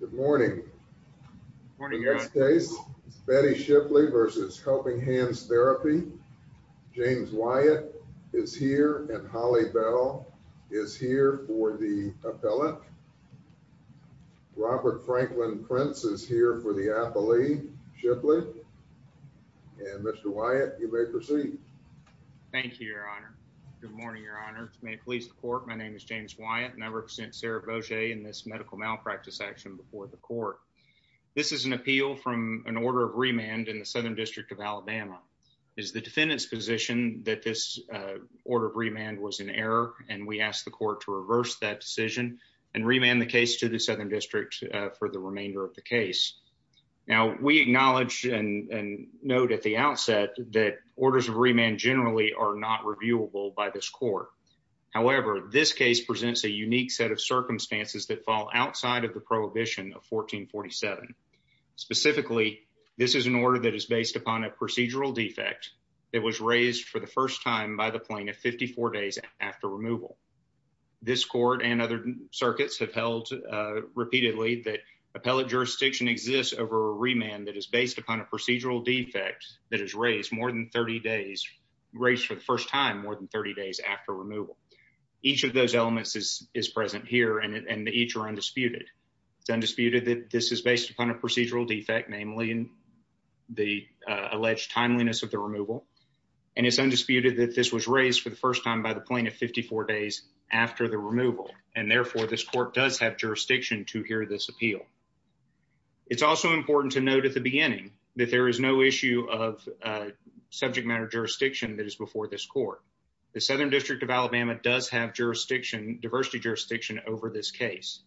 Good morning. Betty Shipley versus Helping Hands Therapy. James Wyatt is here and Holly Bell is here for the appellate. Robert Franklin Prince is here for the appellate, Shipley. And Mr. Wyatt, you may proceed. Thank you, Your Honor. Good morning, Your Honor. To make police the court. My name is James Wyatt, and I represent Sarah Bojay in this medical malpractice action before the court. This is an appeal from an order of remand in the Southern District of Alabama. It is the defendant's position that this order of remand was an error, and we asked the court to reverse that decision and remand the case to the Southern District for the remainder of the case. Now, we acknowledge and note at the outset that orders of remand generally are not reviewable by this court. However, this case presents a unique set of circumstances that fall outside of the prohibition of 1447. Specifically, this is an order that is based upon a procedural defect that was raised for the first time by the plaintiff 54 days after removal. This court and other circuits have held repeatedly that appellate jurisdiction exists over a remand that is based upon a procedural defect that is raised more than 30 days, raised for the first time more than 30 days after removal. Each of those elements is present here and each are undisputed. It's undisputed that this is based upon a procedural defect, namely in the alleged timeliness of the removal. And it's undisputed that this was raised for the first time by the plaintiff 54 days after the removal. And therefore, this court does have jurisdiction to hear this appeal. It's also important to note at the beginning that there is no issue of subject matter jurisdiction that is before this court. The Southern District of Alabama has jurisdiction, diversity jurisdiction over this case.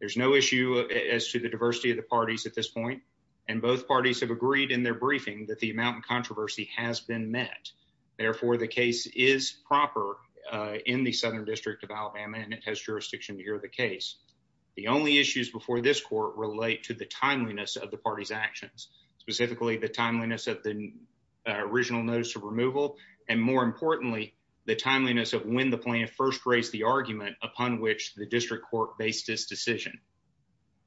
There's no issue as to the diversity of the parties at this point. And both parties have agreed in their briefing that the amount of controversy has been met. Therefore, the case is proper in the Southern District of Alabama and it has jurisdiction to hear the case. The only issues before this court relate to the timeliness of the party's actions, specifically the timeliness of the original notice of removal. And more importantly, the timeliness of when the plaintiff first raised the argument upon which the district court based this decision.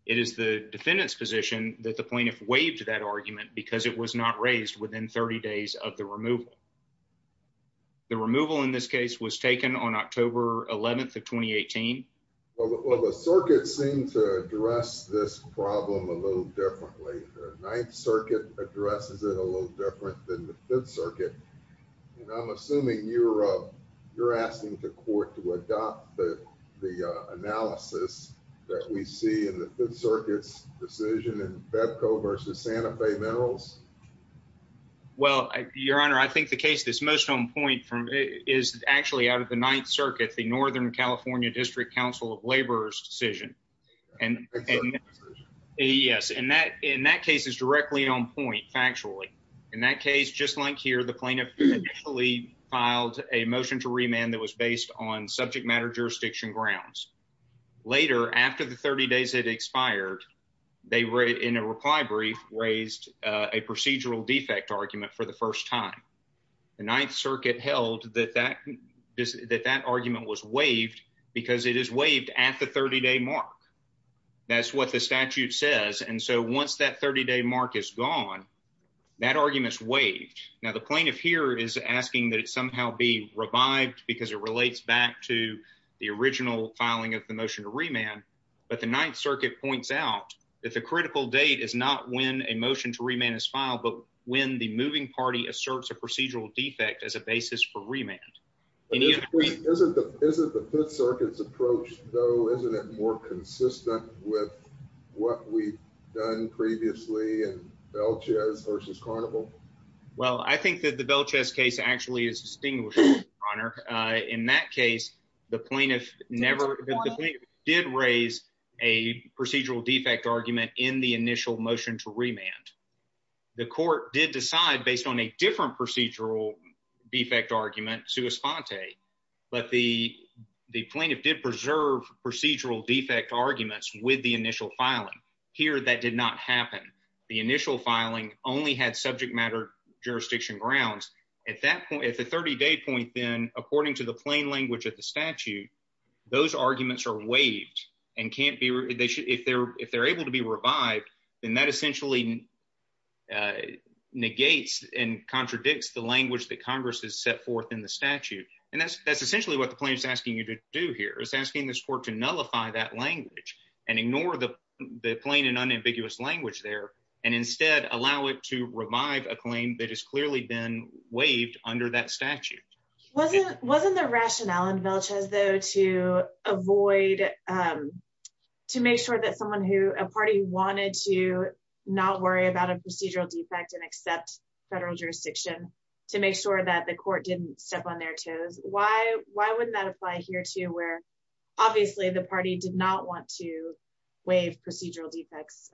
It is the defendant's position that the plaintiff waived that argument because it was not raised within 30 days of the removal. The removal in this case was taken on October 11th of 2018. Well, the circuit seemed to address this problem a little differently. The Ninth Circuit addresses it a little different than the Fifth Circuit. And I'm assuming you're, you're asking the court to adopt the analysis that we see in the Fifth Circuit's decision in BEBCO versus Santa Fe Minerals? Well, Your Honor, I think the case that's most on point from is actually out of the Ninth Circuit, the Northern California District Council of Labor's decision. And yes, and that in that case is directly on point factually. In that case, just like here, the plaintiff actually filed a motion to remove the argument based on subject matter jurisdiction grounds. Later, after the 30 days had expired, they were in a reply brief raised a procedural defect argument for the first time. The Ninth Circuit held that that is that that argument was waived because it is waived at the 30 day mark. That's what the statute says. And so once that 30 day mark is gone, that argument is waived. Now the plaintiff here is asking that somehow be revived because it relates back to the original filing of the motion to remand. But the Ninth Circuit points out that the critical date is not when a motion to remand is filed, but when the moving party asserts a procedural defect as a basis for remand. Isn't the Fifth Circuit's approach though, isn't it more consistent with what we've done previously in Belchez versus Carnival? Well, I think that the Belchez case actually is distinguished, Your Honor. In that case, the plaintiff never did raise a procedural defect argument in the initial motion to remand. The court did decide based on a different procedural defect argument, sua sponte, but the the plaintiff did preserve procedural defect arguments with the initial filing. Here that did not happen. The initial filing only had subject matter jurisdiction grounds. At that point, at the 30 day point, then according to the plain language of the statute, those arguments are waived and can't be, they should, if they're, if they're able to be revived, then that essentially negates and contradicts the language that Congress has set forth in the statute. And that's, that's essentially what the plaintiff is asking you to do here is asking this court to nullify that language and ignore the plain and unambiguous language there, and instead allow it to revive a claim that has clearly been waived under that statute. Wasn't, wasn't the rationale in Belchez though, to avoid, to make sure that someone who, a party wanted to not worry about a procedural defect and accept federal jurisdiction to make sure that the court didn't step on their toes. Why, why wouldn't that apply here too, where obviously the party did not want to waive procedural defects,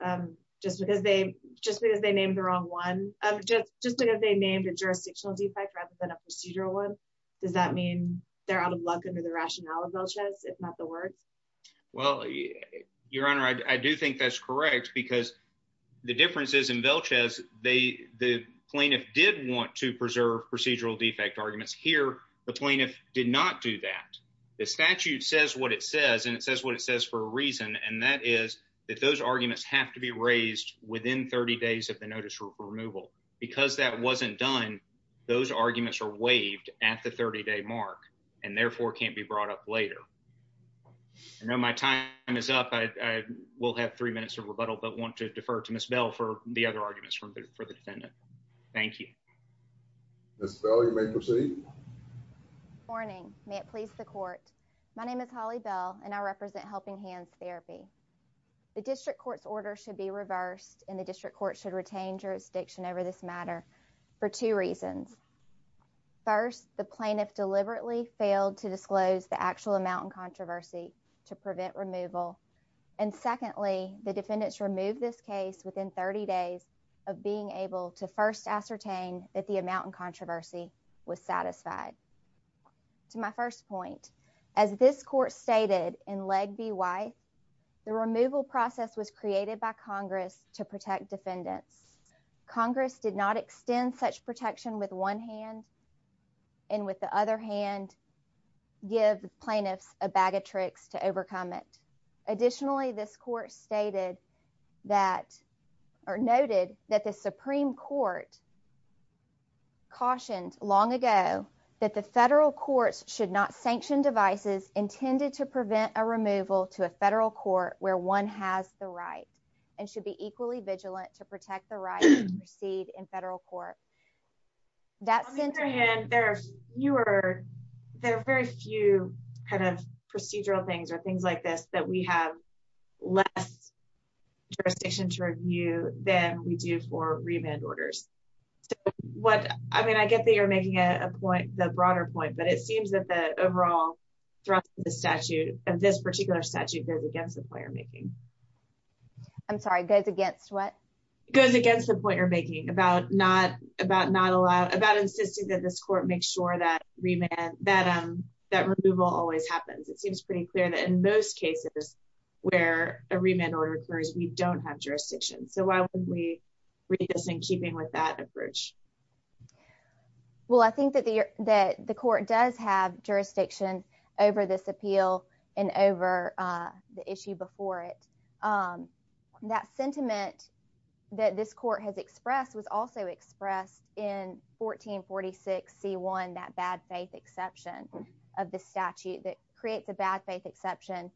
just because they, just because they named the wrong one, just, just because they named a jurisdictional defect rather than a procedural one. Does that mean they're out of luck under the rationale of Belchez, if not the words? Well, your honor, I do think that's correct because the difference is in Belchez, they, the plaintiff did want to preserve procedural defect arguments here. The plaintiff did not do that. The statute says what it says, and it says what it says for a reason. And that is that those arguments have to be raised within 30 days of the notice removal, because that wasn't done. Those arguments are waived at the 30 day mark and therefore can't be brought up later. I know my time is up. I will have three minutes of rebuttal, but want to defer to Ms. Bell for the other arguments from the, for the defendant. Thank you. Ms. Bell, you may proceed. Morning, may it please the court. My name is Holly Bell and I represent Helping Hands Therapy. The district court's order should be reversed and the district court should retain jurisdiction over this matter for two reasons. First, the plaintiff deliberately failed to disclose the actual amount and controversy to prevent removal. And secondly, the defendants removed this case within 30 days of being able to first ascertain that the amount and controversy was satisfied. To my first point, as this court stated in leg B why the removal process was created by Congress to protect defendants. Congress did not extend such protection with one hand. And with the other hand, give plaintiffs a bag of tricks to overcome it. Additionally, this court stated that, or noted that the Supreme Court cautioned long ago, that the federal courts should not sanction devices intended to prevent a removal to a federal court where one has the right and should be equally vigilant to protect the right to proceed in federal court. That's in your hand, there are fewer, there are very few kind of procedural things or things like this that we have less jurisdiction to review than we do for remand orders. What I mean, I get that you're making a point, the broader point, but it seems that the overall thrust of the statute of this particular statute goes against the point you're making. I'm sorry, goes against what? Goes against the point you're making about not about not allowed about insisting that this court makes sure that remand that that removal always happens. It seems pretty clear that in most cases, where a remand order occurs, we don't have jurisdiction. So why wouldn't we read this in keeping with that approach? Well, I think that the that the court does have jurisdiction over this appeal, and over the issue before it. That sentiment that this court has expressed was also expressed in 1446 C1, that bad faith exception of the statute that creates a bad faith exception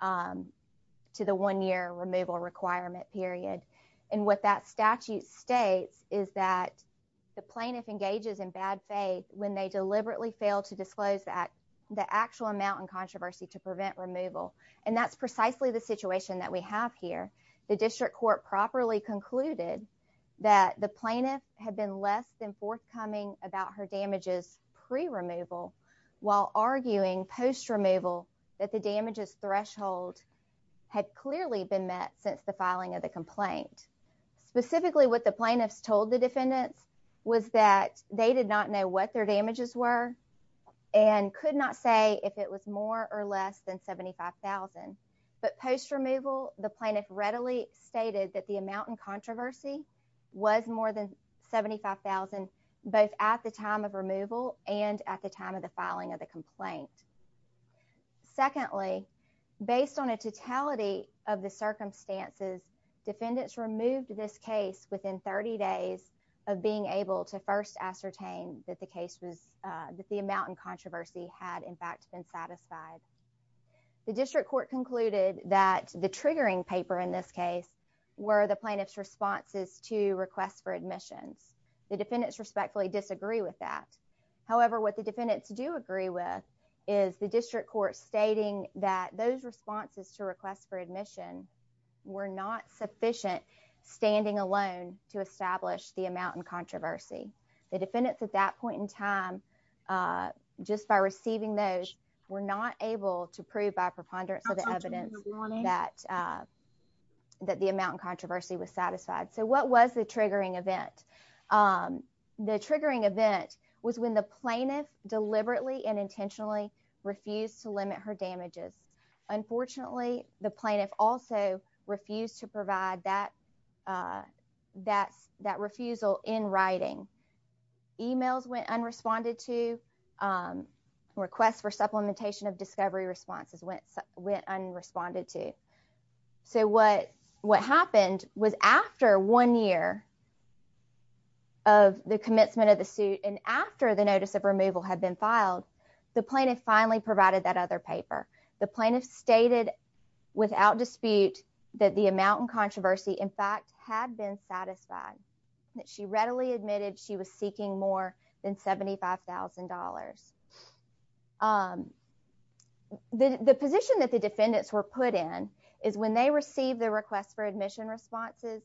to the one year removal requirement period. And what that statute states is that the plaintiff engages in bad faith when they deliberately fail to disclose that the actual amount and controversy to prevent removal. And that's precisely the situation that we have here. The district court properly concluded that the plaintiff had been less than forthcoming about her damages pre removal, while arguing post removal, that the damages threshold had clearly been met since the filing of the complaint. Specifically, what the plaintiffs told the defendants was that they did not know what their damages were, and could not say if it was more or less than 75,000. But post removal, the plaintiff readily stated that the amount and controversy was more than 75,000, both at the time of removal and at the time of the filing of the secondly, based on a totality of the circumstances, defendants removed this case within 30 days of being able to first ascertain that the case was that the amount and controversy had in fact been satisfied. The district court concluded that the triggering paper in this case, were the plaintiff's responses to requests for admissions, the defendants respectfully disagree with that. However, what the defendants do agree with, is the district court stating that those responses to requests for admission, were not sufficient, standing alone to establish the amount and controversy. The defendants at that point in time, just by receiving those, were not able to prove by preponderance of evidence that that the amount and controversy was satisfied. So what was the triggering event? The triggering event was when the plaintiff deliberately and intentionally refused to limit her damages. Unfortunately, the plaintiff also refused to provide that that's that refusal in writing, emails went unresponded to requests for supplementation of discovery responses went, went unresponded to. So what what happened was after one year of the commencement of the suit, and after the notice of removal had been filed, the plaintiff finally provided that other paper, the plaintiff stated, without dispute, that the amount and controversy, in fact, had been satisfied, that she readily admitted she was seeking more than $75,000. The position that the defendants were put in, is when they receive the request for admission responses.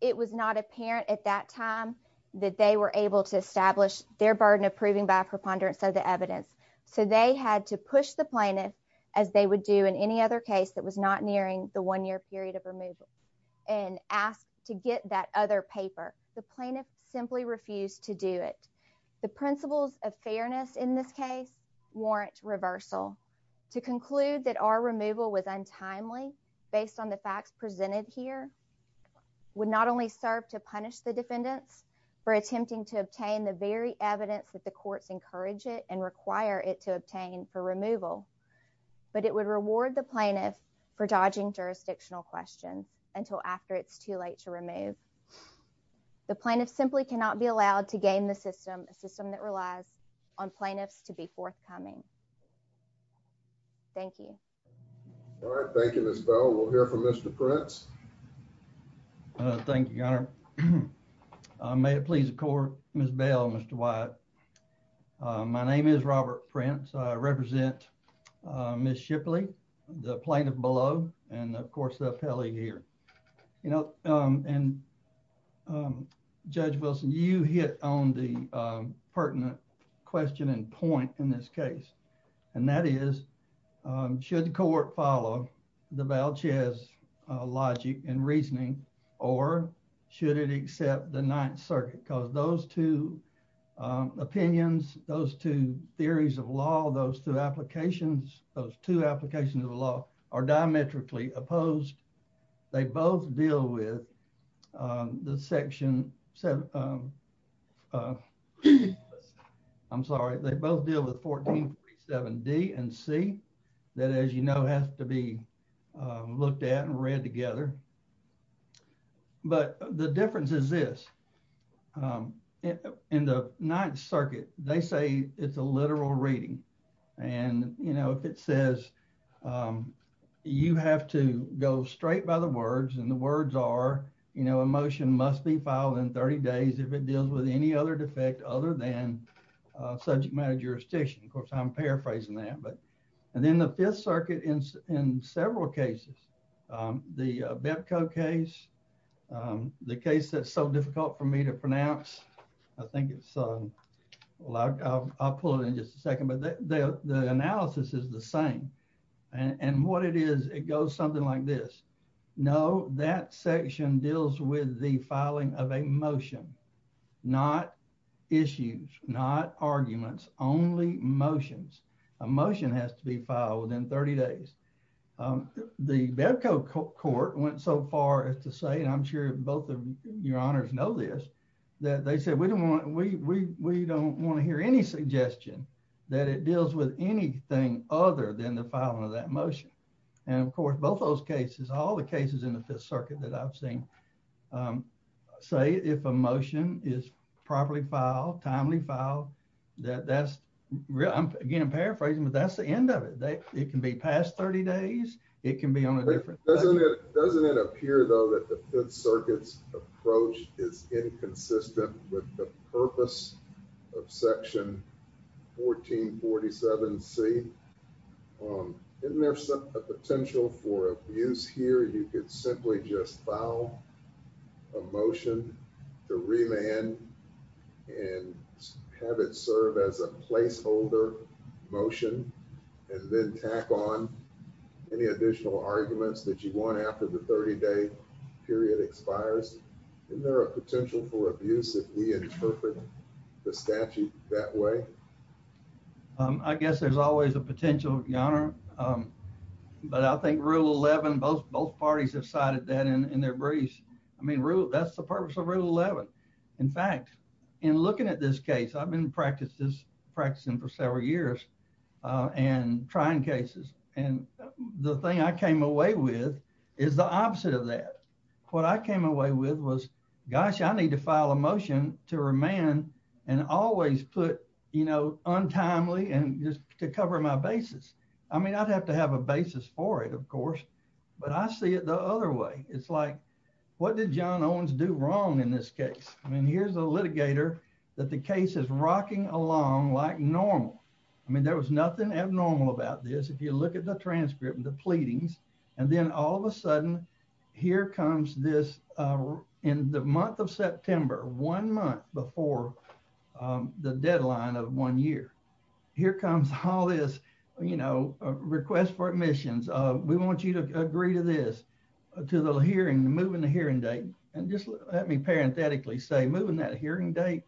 It was not apparent at that time, that they were able to establish their burden of proving by preponderance of the evidence. So they had to push the plaintiff, as they would do in any other case that was not nearing the one year period of removal, and asked to get that other paper, the plaintiff simply refused to do it. The principles of fairness in this case, warrant reversal, to conclude that our removal was untimely, based on the facts presented here, would not only serve to punish the defendants for attempting to obtain the very evidence that the courts encourage it and require it to obtain for removal, but it would reward the plaintiff for dodging jurisdictional questions until after it's too late to remove. The plaintiff simply cannot be allowed to gain the system, a system that relies on plaintiffs to be forthcoming. Thank you. All right. Thank you, Miss Bell. We'll hear from Mr. Prince. Thank you, Your Honor. May it please the court, Miss Bell, Mr. Wyatt. My name is Robert Prince. I represent Miss Shipley, the plaintiff below, and of course the appellee here. You know, and Judge Wilson, you hit on the pertinent question and point in this case. And that is, should the court follow the Valchez logic and reasoning, or should it accept the Ninth Circuit? Because those two opinions, those two theories of law, those two applications, those two applications of the law are diametrically opposed. They both deal with the Section 7, I'm sorry, they both deal with 1437D and C, that as you know, has to be looked at and read together. But the difference is this. In the Ninth Circuit, they say it's a literal reading. And you know, if it says, you have to go straight by the words, and the words are, you know, a motion must be filed in 30 days if it deals with any other defect other than subject matter jurisdiction. Of course, I'm paraphrasing that. But and then the Fifth Circuit in several cases, the Betko case, the case that's so difficult for me to pronounce, I think it's, I'll pull it in just a second. But the analysis is the same. And what it is, it goes something like this. No, that section deals with the filing of a motion, not issues, not within 30 days. The Betko court went so far as to say, and I'm sure both of your honors know this, that they said, we don't want, we don't want to hear any suggestion that it deals with anything other than the filing of that motion. And of course, both those cases, all the cases in the Fifth Circuit that I've seen, say if a motion is properly filed, timely filed, that that's, again, I'm paraphrasing, but that's the end of it. It can be past 30 days, it can be on a different day. Doesn't it appear though, that the Fifth Circuit's approach is inconsistent with the purpose of section 1447C. Isn't there a potential for abuse here, you could simply just file a motion to remand and have it serve as a placeholder motion, and then tack on any additional arguments that you want after the 30 day period expires? Isn't there a potential for abuse if we interpret the statute that way? I guess there's always a potential, your honor. But I think Rule 11, both parties have cited that in their briefs. I think that's the purpose of Rule 11. In fact, in looking at this case, I've been practicing for several years, and trying cases. And the thing I came away with is the opposite of that. What I came away with was, gosh, I need to file a motion to remand and always put, you know, untimely and just to cover my basis. I mean, I'd have to have a basis for it, of course. But I see it the other way. It's like, what did John Owens do wrong in this case? I mean, here's a litigator that the case is rocking along like normal. I mean, there was nothing abnormal about this. If you look at the transcript and the pleadings, and then all of a sudden, here comes this in the month of September, one month before the deadline of one year. Here comes all this, you know, request for admissions, we want you to agree to this, to the hearing, moving the hearing date. And just let me parenthetically say moving that hearing date,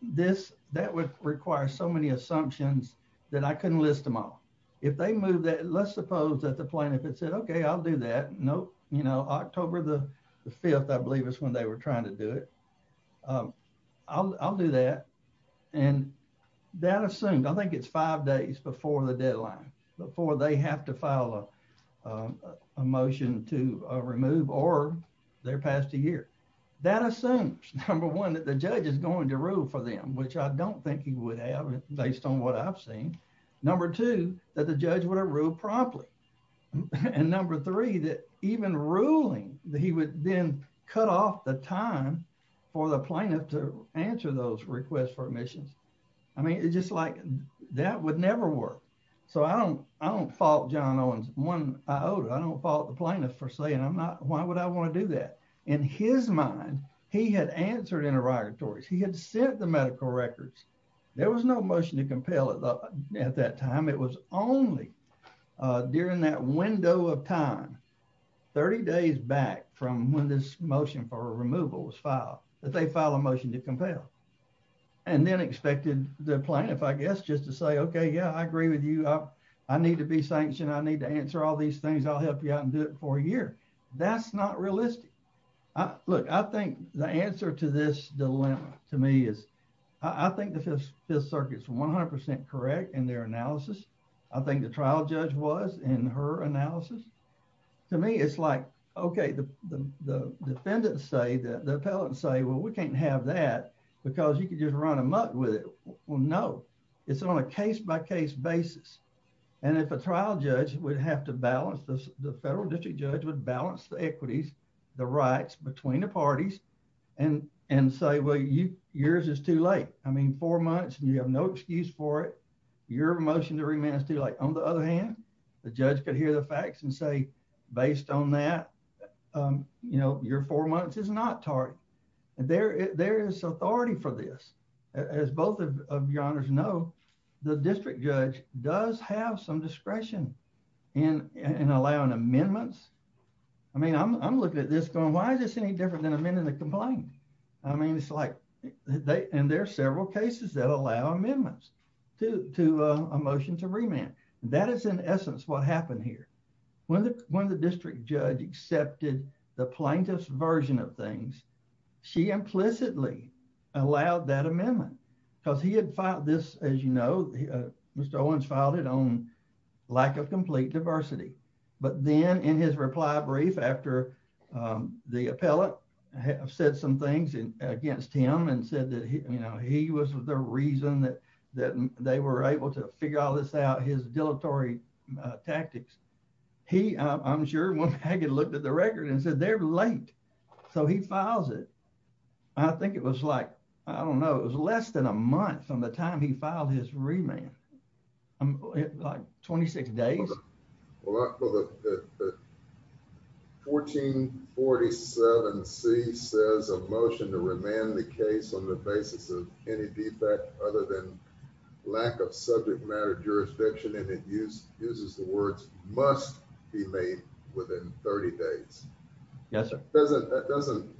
this, that would require so many assumptions that I couldn't list them all. If they move that, let's suppose that the plaintiff had said, okay, I'll do that. Nope, you know, October the 5th, I believe is when they were trying to do it. I'll do that. And that assumed, I think it's five days before the deadline before they have to file a motion to remove or their past a year, that assumes number one, that the judge is going to rule for them, which I don't think he would have based on what I've seen. Number two, that the judge would have ruled promptly. And number three, that even ruling that he would then cut off the time for the plaintiff to answer those requests for admissions. I mean, it's just like, that would never work. So I don't, I don't fault John Owens one, I don't fault the plaintiff for saying I'm not, why would I want to do that? In his mind, he had answered interrogatories, he had sent the medical records, there was no motion to compel at that time, it was only during that window of time, 30 days back from when this motion for removal was filed, that they file a motion to compel and then expected the plaintiff, I guess, just to say, okay, yeah, I agree with you. I need to be sanctioned. I need to answer all these things. I'll help you out and do it for a year. That's not realistic. Look, I think the answer to this dilemma, to me is, I think the Fifth Circuit is 100% correct in their analysis. I think the trial judge was in her analysis. To me, it's like, okay, the defendant say that the appellate say, well, we can't have that, because you can just run amok with it. Well, no, it's on a case by case basis. And if a trial judge would have to balance this, the federal district judge would balance the equities, the rights between the parties, and say, well, yours is too late. I mean, four months and you have no excuse for it. Your motion to remand is too late. On the other hand, the judge could hear the facts and say, based on that, you know, there is authority for this. As both of your honors know, the district judge does have some discretion in allowing amendments. I mean, I'm looking at this going, why is this any different than amending the complaint? I mean, it's like, they and there are several cases that allow amendments to a motion to remand. That is in essence what happened here. When the when the district judge accepted the plaintiff's version of things, she implicitly allowed that amendment, because he had filed this, as you know, Mr. Owens filed it on lack of complete diversity. But then in his reply brief after the appellate said some things against him and said that, you know, he was the reason that that they were able to figure all this out, his dilatory tactics. He, I'm sure, one to the record and said they're late. So he files it. I think it was like, I don't know, it was less than a month from the time he filed his remand. I'm like 26 days. 1447 C says a motion to remand the case on the basis of any defect other than lack of subject matter jurisdiction and use uses the words must be made within 30 days. Yes, sir. Doesn't that doesn't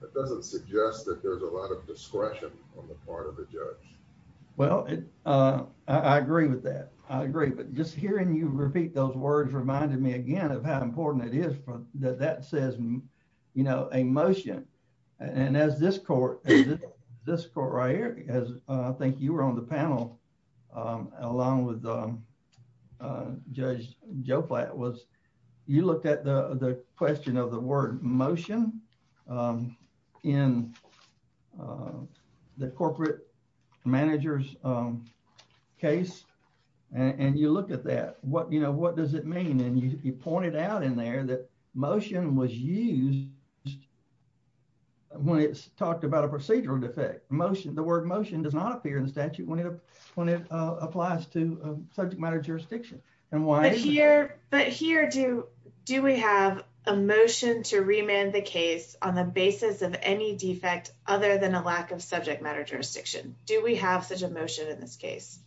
that doesn't suggest that there's a lot of discretion on the part of the judge. Well, I agree with that. I agree. But just hearing you repeat those words reminded me again of how important it is for that that says, you know, a motion. And as this court, this court right here, as I think you were on the panel, along with Judge Joe Platt was, you looked at the question of the word motion in the corporate managers case. And you look at that, what you know, what does it mean? And you pointed out in there that motion was used when it's talked about a procedural defect motion, the word motion does not appear in the statute when it when it applies to subject matter jurisdiction. And why is here? But here do do we have a motion to remand the case on the basis of any defect other than a lack of subject matter jurisdiction? Do we have such a motion in this case?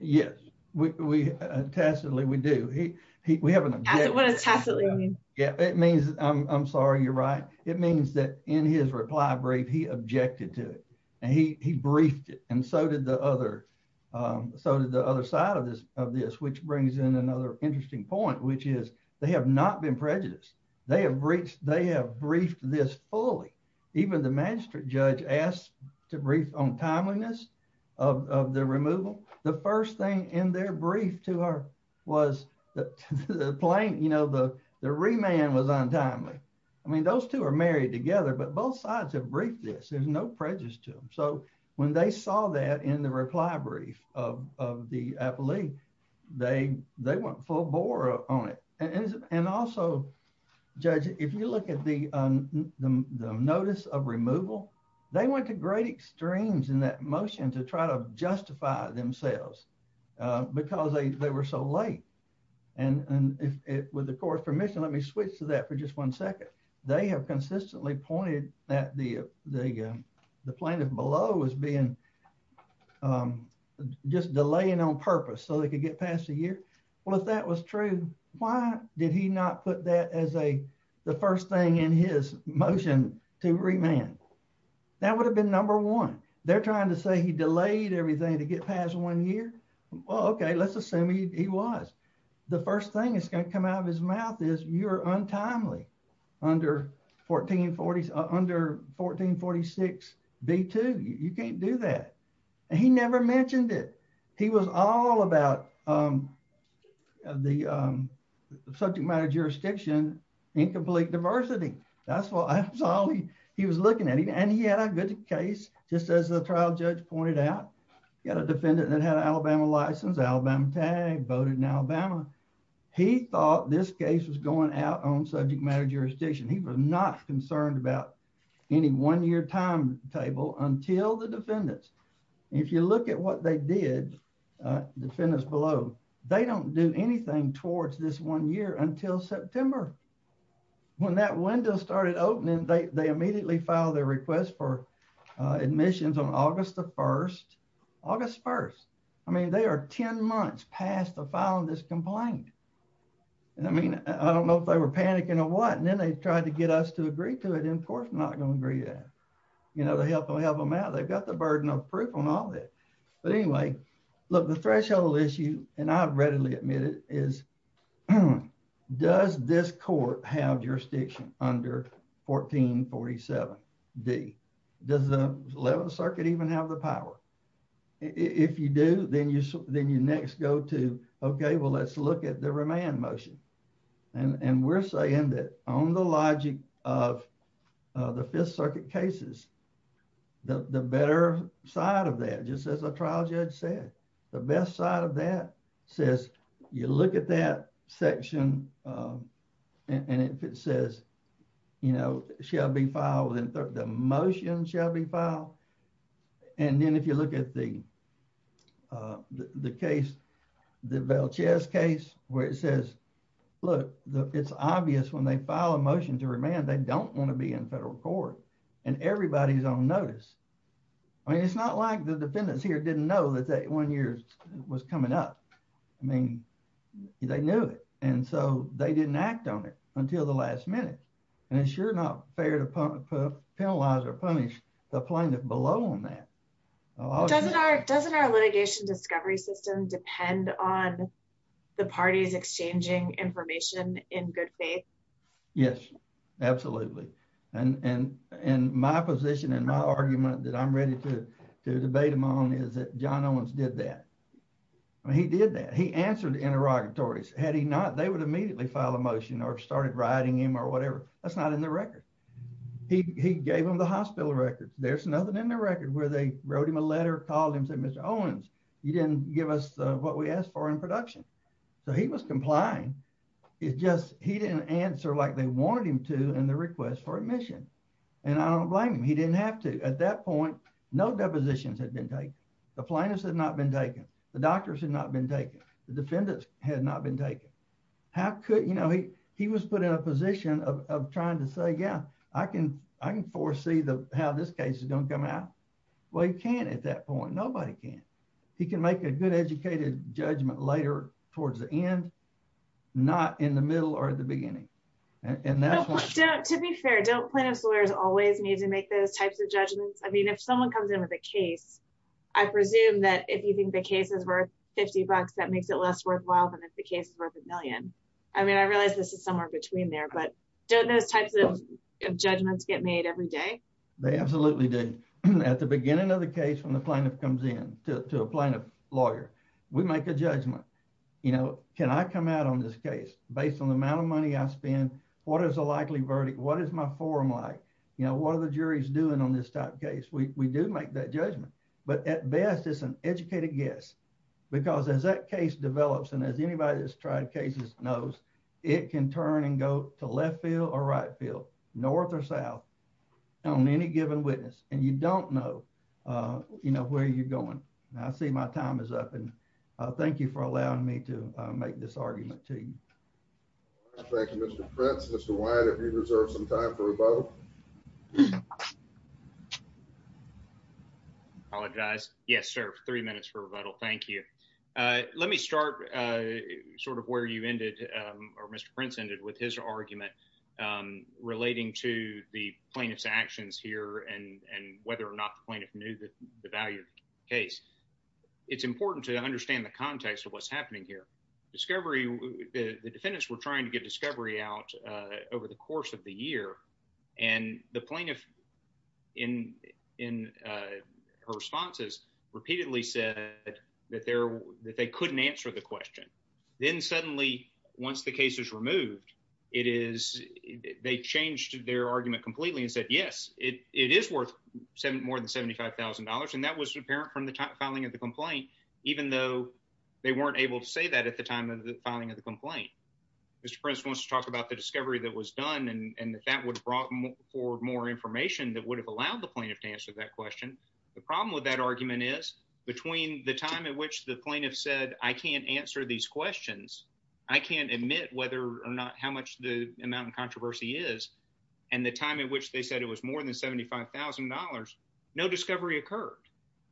Yes, we tested Lee, we do. He we haven't. Yeah, it means I'm sorry, you're right. It means that in his reply brief, he objected to it. And he briefed it. And so did the other. So did the other side of this, of this, which brings in another interesting point, which is they have not been prejudiced. They have reached they have briefed this fully, even the magistrate judge asked to brief on timeliness of the removal. The first thing in their brief to her was that the plane, you know, the remand was untimely. I mean, those two are married together, but both sides have briefed this, there's no prejudice to them. So when they saw that in the reply brief of the appellee, they they went full bore on it. And also, judge, if you look at the notice of removal, they went to great extremes in that motion to try to justify themselves, because they were so late. And with the court's permission, let me switch to that for just one second. They have consistently pointed that the the the plaintiff below was being just delaying on purpose so they could get past a year. Well, if that was true, why did he not put that as a the first thing in his motion to remand? That would have been number one, they're trying to say he delayed everything to get past one year. Well, okay, let's assume he was the first thing is going to come out of his mouth is you're untimely under 1446 B2, you can't do that. And he never mentioned it. He was all about the subject matter jurisdiction, incomplete diversity. That's what I saw. He was looking at it. And he had a good case, just as the trial judge pointed out, got a defendant that had Alabama license, Alabama tag voted in Alabama. He thought this case was going out on subject matter jurisdiction, he was not concerned about any one year timetable until the defendants. If you look at what they did, defendants below, they don't do anything towards this one year until September. When that window started opening, they immediately filed their request for admissions on August the 1st, August 1st. I mean, they are 10 months past the filing this complaint. And I mean, I don't know if they were panicking or what, and then they tried to get us to agree to it, of course, not going to agree that, you know, to help them help them out. They've got the burden of proof on all that. But anyway, look, the threshold issue, and I readily admit it is, does this court have jurisdiction under 1447 D? Does the 11th Circuit even have the power? If you do, then you then you next go to, okay, well, let's look at the remand motion. And we're saying that on the logic of the Fifth Circuit cases, the better side of that just as a trial judge said, the best side of that says, you look at that section. And it says, you know, shall be filed in the motion shall be filed. And then if you look at the the case, the Valchez case, where it says, look, it's obvious when they file a motion to remand, they don't want to be in federal court. And everybody's on notice. I mean, it's not like the defendants here didn't know that that one year was coming up. I mean, they knew it. And so they didn't act on it until the last minute. And it's sure not fair to penalize or punish the plaintiff below on that. Doesn't our litigation discovery system depend on the parties exchanging information in good faith? Yes, absolutely. And, and, and my position and my argument that I'm ready to debate him on is that John Owens did that. He did that he answered interrogatories. Had he not, they would immediately file a motion or started writing him or whatever. That's not in the record. He gave him the hospital records. There's nothing in the record where they wrote him a letter called him said, Mr. Owens, you didn't give us what we asked for in production. So he was complying. It just he didn't answer like they wanted him to and the request for admission. And I don't blame him. He didn't have to at that point, no depositions had been taken. The plaintiffs had not been taken. The doctors had not been taken. The defendants had not been taken. How could you know, he, he was put in a position of trying to say, yeah, I can, I can foresee the how this case is going to come out. Well, you can't at that point, nobody can. He can make a good educated judgment later towards the end. Not in the middle or the beginning. And to be fair, don't plaintiff's lawyers always need to make those types of judgments. I mean, if someone comes in with a case, I presume that if you think the case is worth 50 bucks, that makes it less worthwhile than if the case is worth a million. I mean, I realized this is somewhere between there. But don't those types of judgments get made every day? They absolutely did. At the beginning of the case, when the plaintiff comes in to a plaintiff lawyer, we make a judgment. You know, can I come out on this case based on the amount of money I spend? What is the likely verdict? What is my forum like? You know, what are the juries doing on this type case? We do make that judgment. But at best, it's an educated guess. Because as that case develops, and as anybody that's tried cases knows, it can turn and go to left field or right field, north or south on any given witness, and you don't know, you know, where you're going. And I see my time is up. And thank you for allowing me to make this argument to you. Thank you, Mr. Prince. Mr. Wyatt, if you reserve some time for rebuttal. Apologize. Yes, sir. Three minutes for rebuttal. Thank you. Let me start sort of where you ended, or Mr. Prince ended with his argument relating to the plaintiff's actions here and whether or not the plaintiff knew that the value case. It's important to understand the context of what's happening here. Discovery, the defendants were trying to get discovery out over the course of the year. And the plaintiff in in her responses, repeatedly said that they're that they couldn't answer the question. Then suddenly, once the case is removed, it is they changed their argument completely and said, Yes, it is worth seven more than $75,000. And that was apparent from the filing of the complaint, even though they weren't able to say that at the time of the filing of the discovery that was done, and that would have brought forward more information that would have allowed the plaintiff to answer that question. The problem with that argument is between the time at which the plaintiff said, I can't answer these questions, I can't admit whether or not how much the amount of controversy is, and the time at which they said it was more than $75,000, no discovery occurred.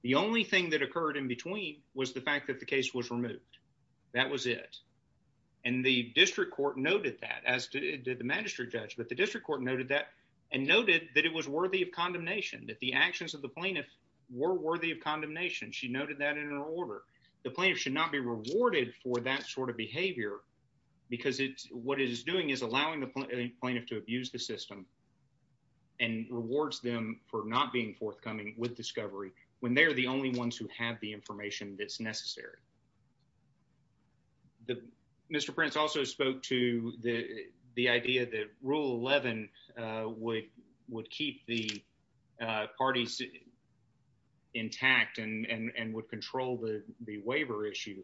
The only thing that occurred in between was the fact that the case was the district court noted that and noted that it was worthy of condemnation that the actions of the plaintiff were worthy of condemnation. She noted that in her order, the plaintiff should not be rewarded for that sort of behavior. Because it's what it is doing is allowing the plaintiff to abuse the system and rewards them for not being forthcoming with discovery when they're the only ones who have the information that's necessary. Mr. Prince also spoke to the idea that Rule 11 would keep the parties intact and would control the waiver issue,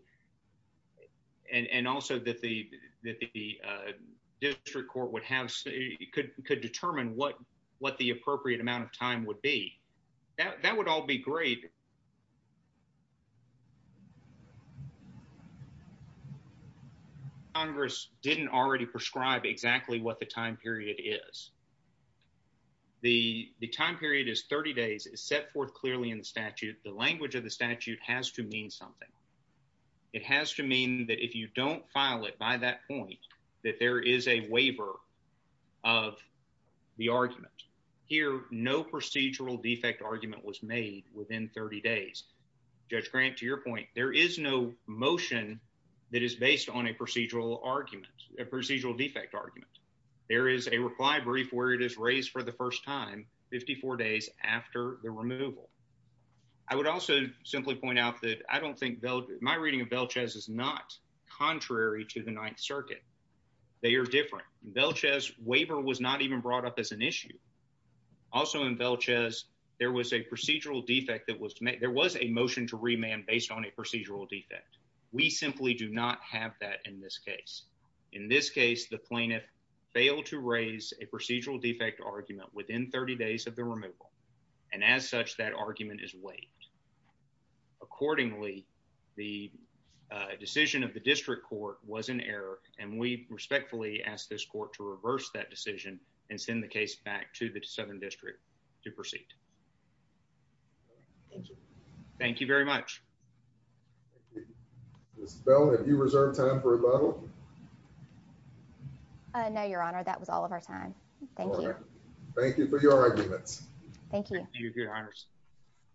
and also that the district court could determine what the appropriate amount of time would be. That would all be graded. Congress didn't already prescribe exactly what the time period is. The time period is 30 days. It's set forth clearly in the statute. The language of the statute has to mean something. It has to mean that if you don't file it by that point, that there is a waiver of the argument. Here, no 30 days. Judge Grant, to your point, there is no motion that is based on a procedural argument, a procedural defect argument. There is a reply brief where it is raised for the first time, 54 days after the removal. I would also simply point out that I don't think my reading of Velchez is not contrary to the Ninth Circuit. They are different. Velchez waiver was not even brought up as an issue. Also in Velchez, there was a procedural defect. There was a motion to remand based on a procedural defect. We simply do not have that in this case. In this case, the plaintiff failed to raise a procedural defect argument within 30 days of the removal. As such, that argument is waived. Accordingly, the decision of the district court was an error. We respectfully ask this court to reverse that decision and send the case back to the Southern District to proceed. Thank you. Thank you very much. Ms. Bell, have you reserved time for rebuttal? No, Your Honor. That was all of our time. Thank you. Thank you for your arguments. Thank you. Thank you, Your Honor.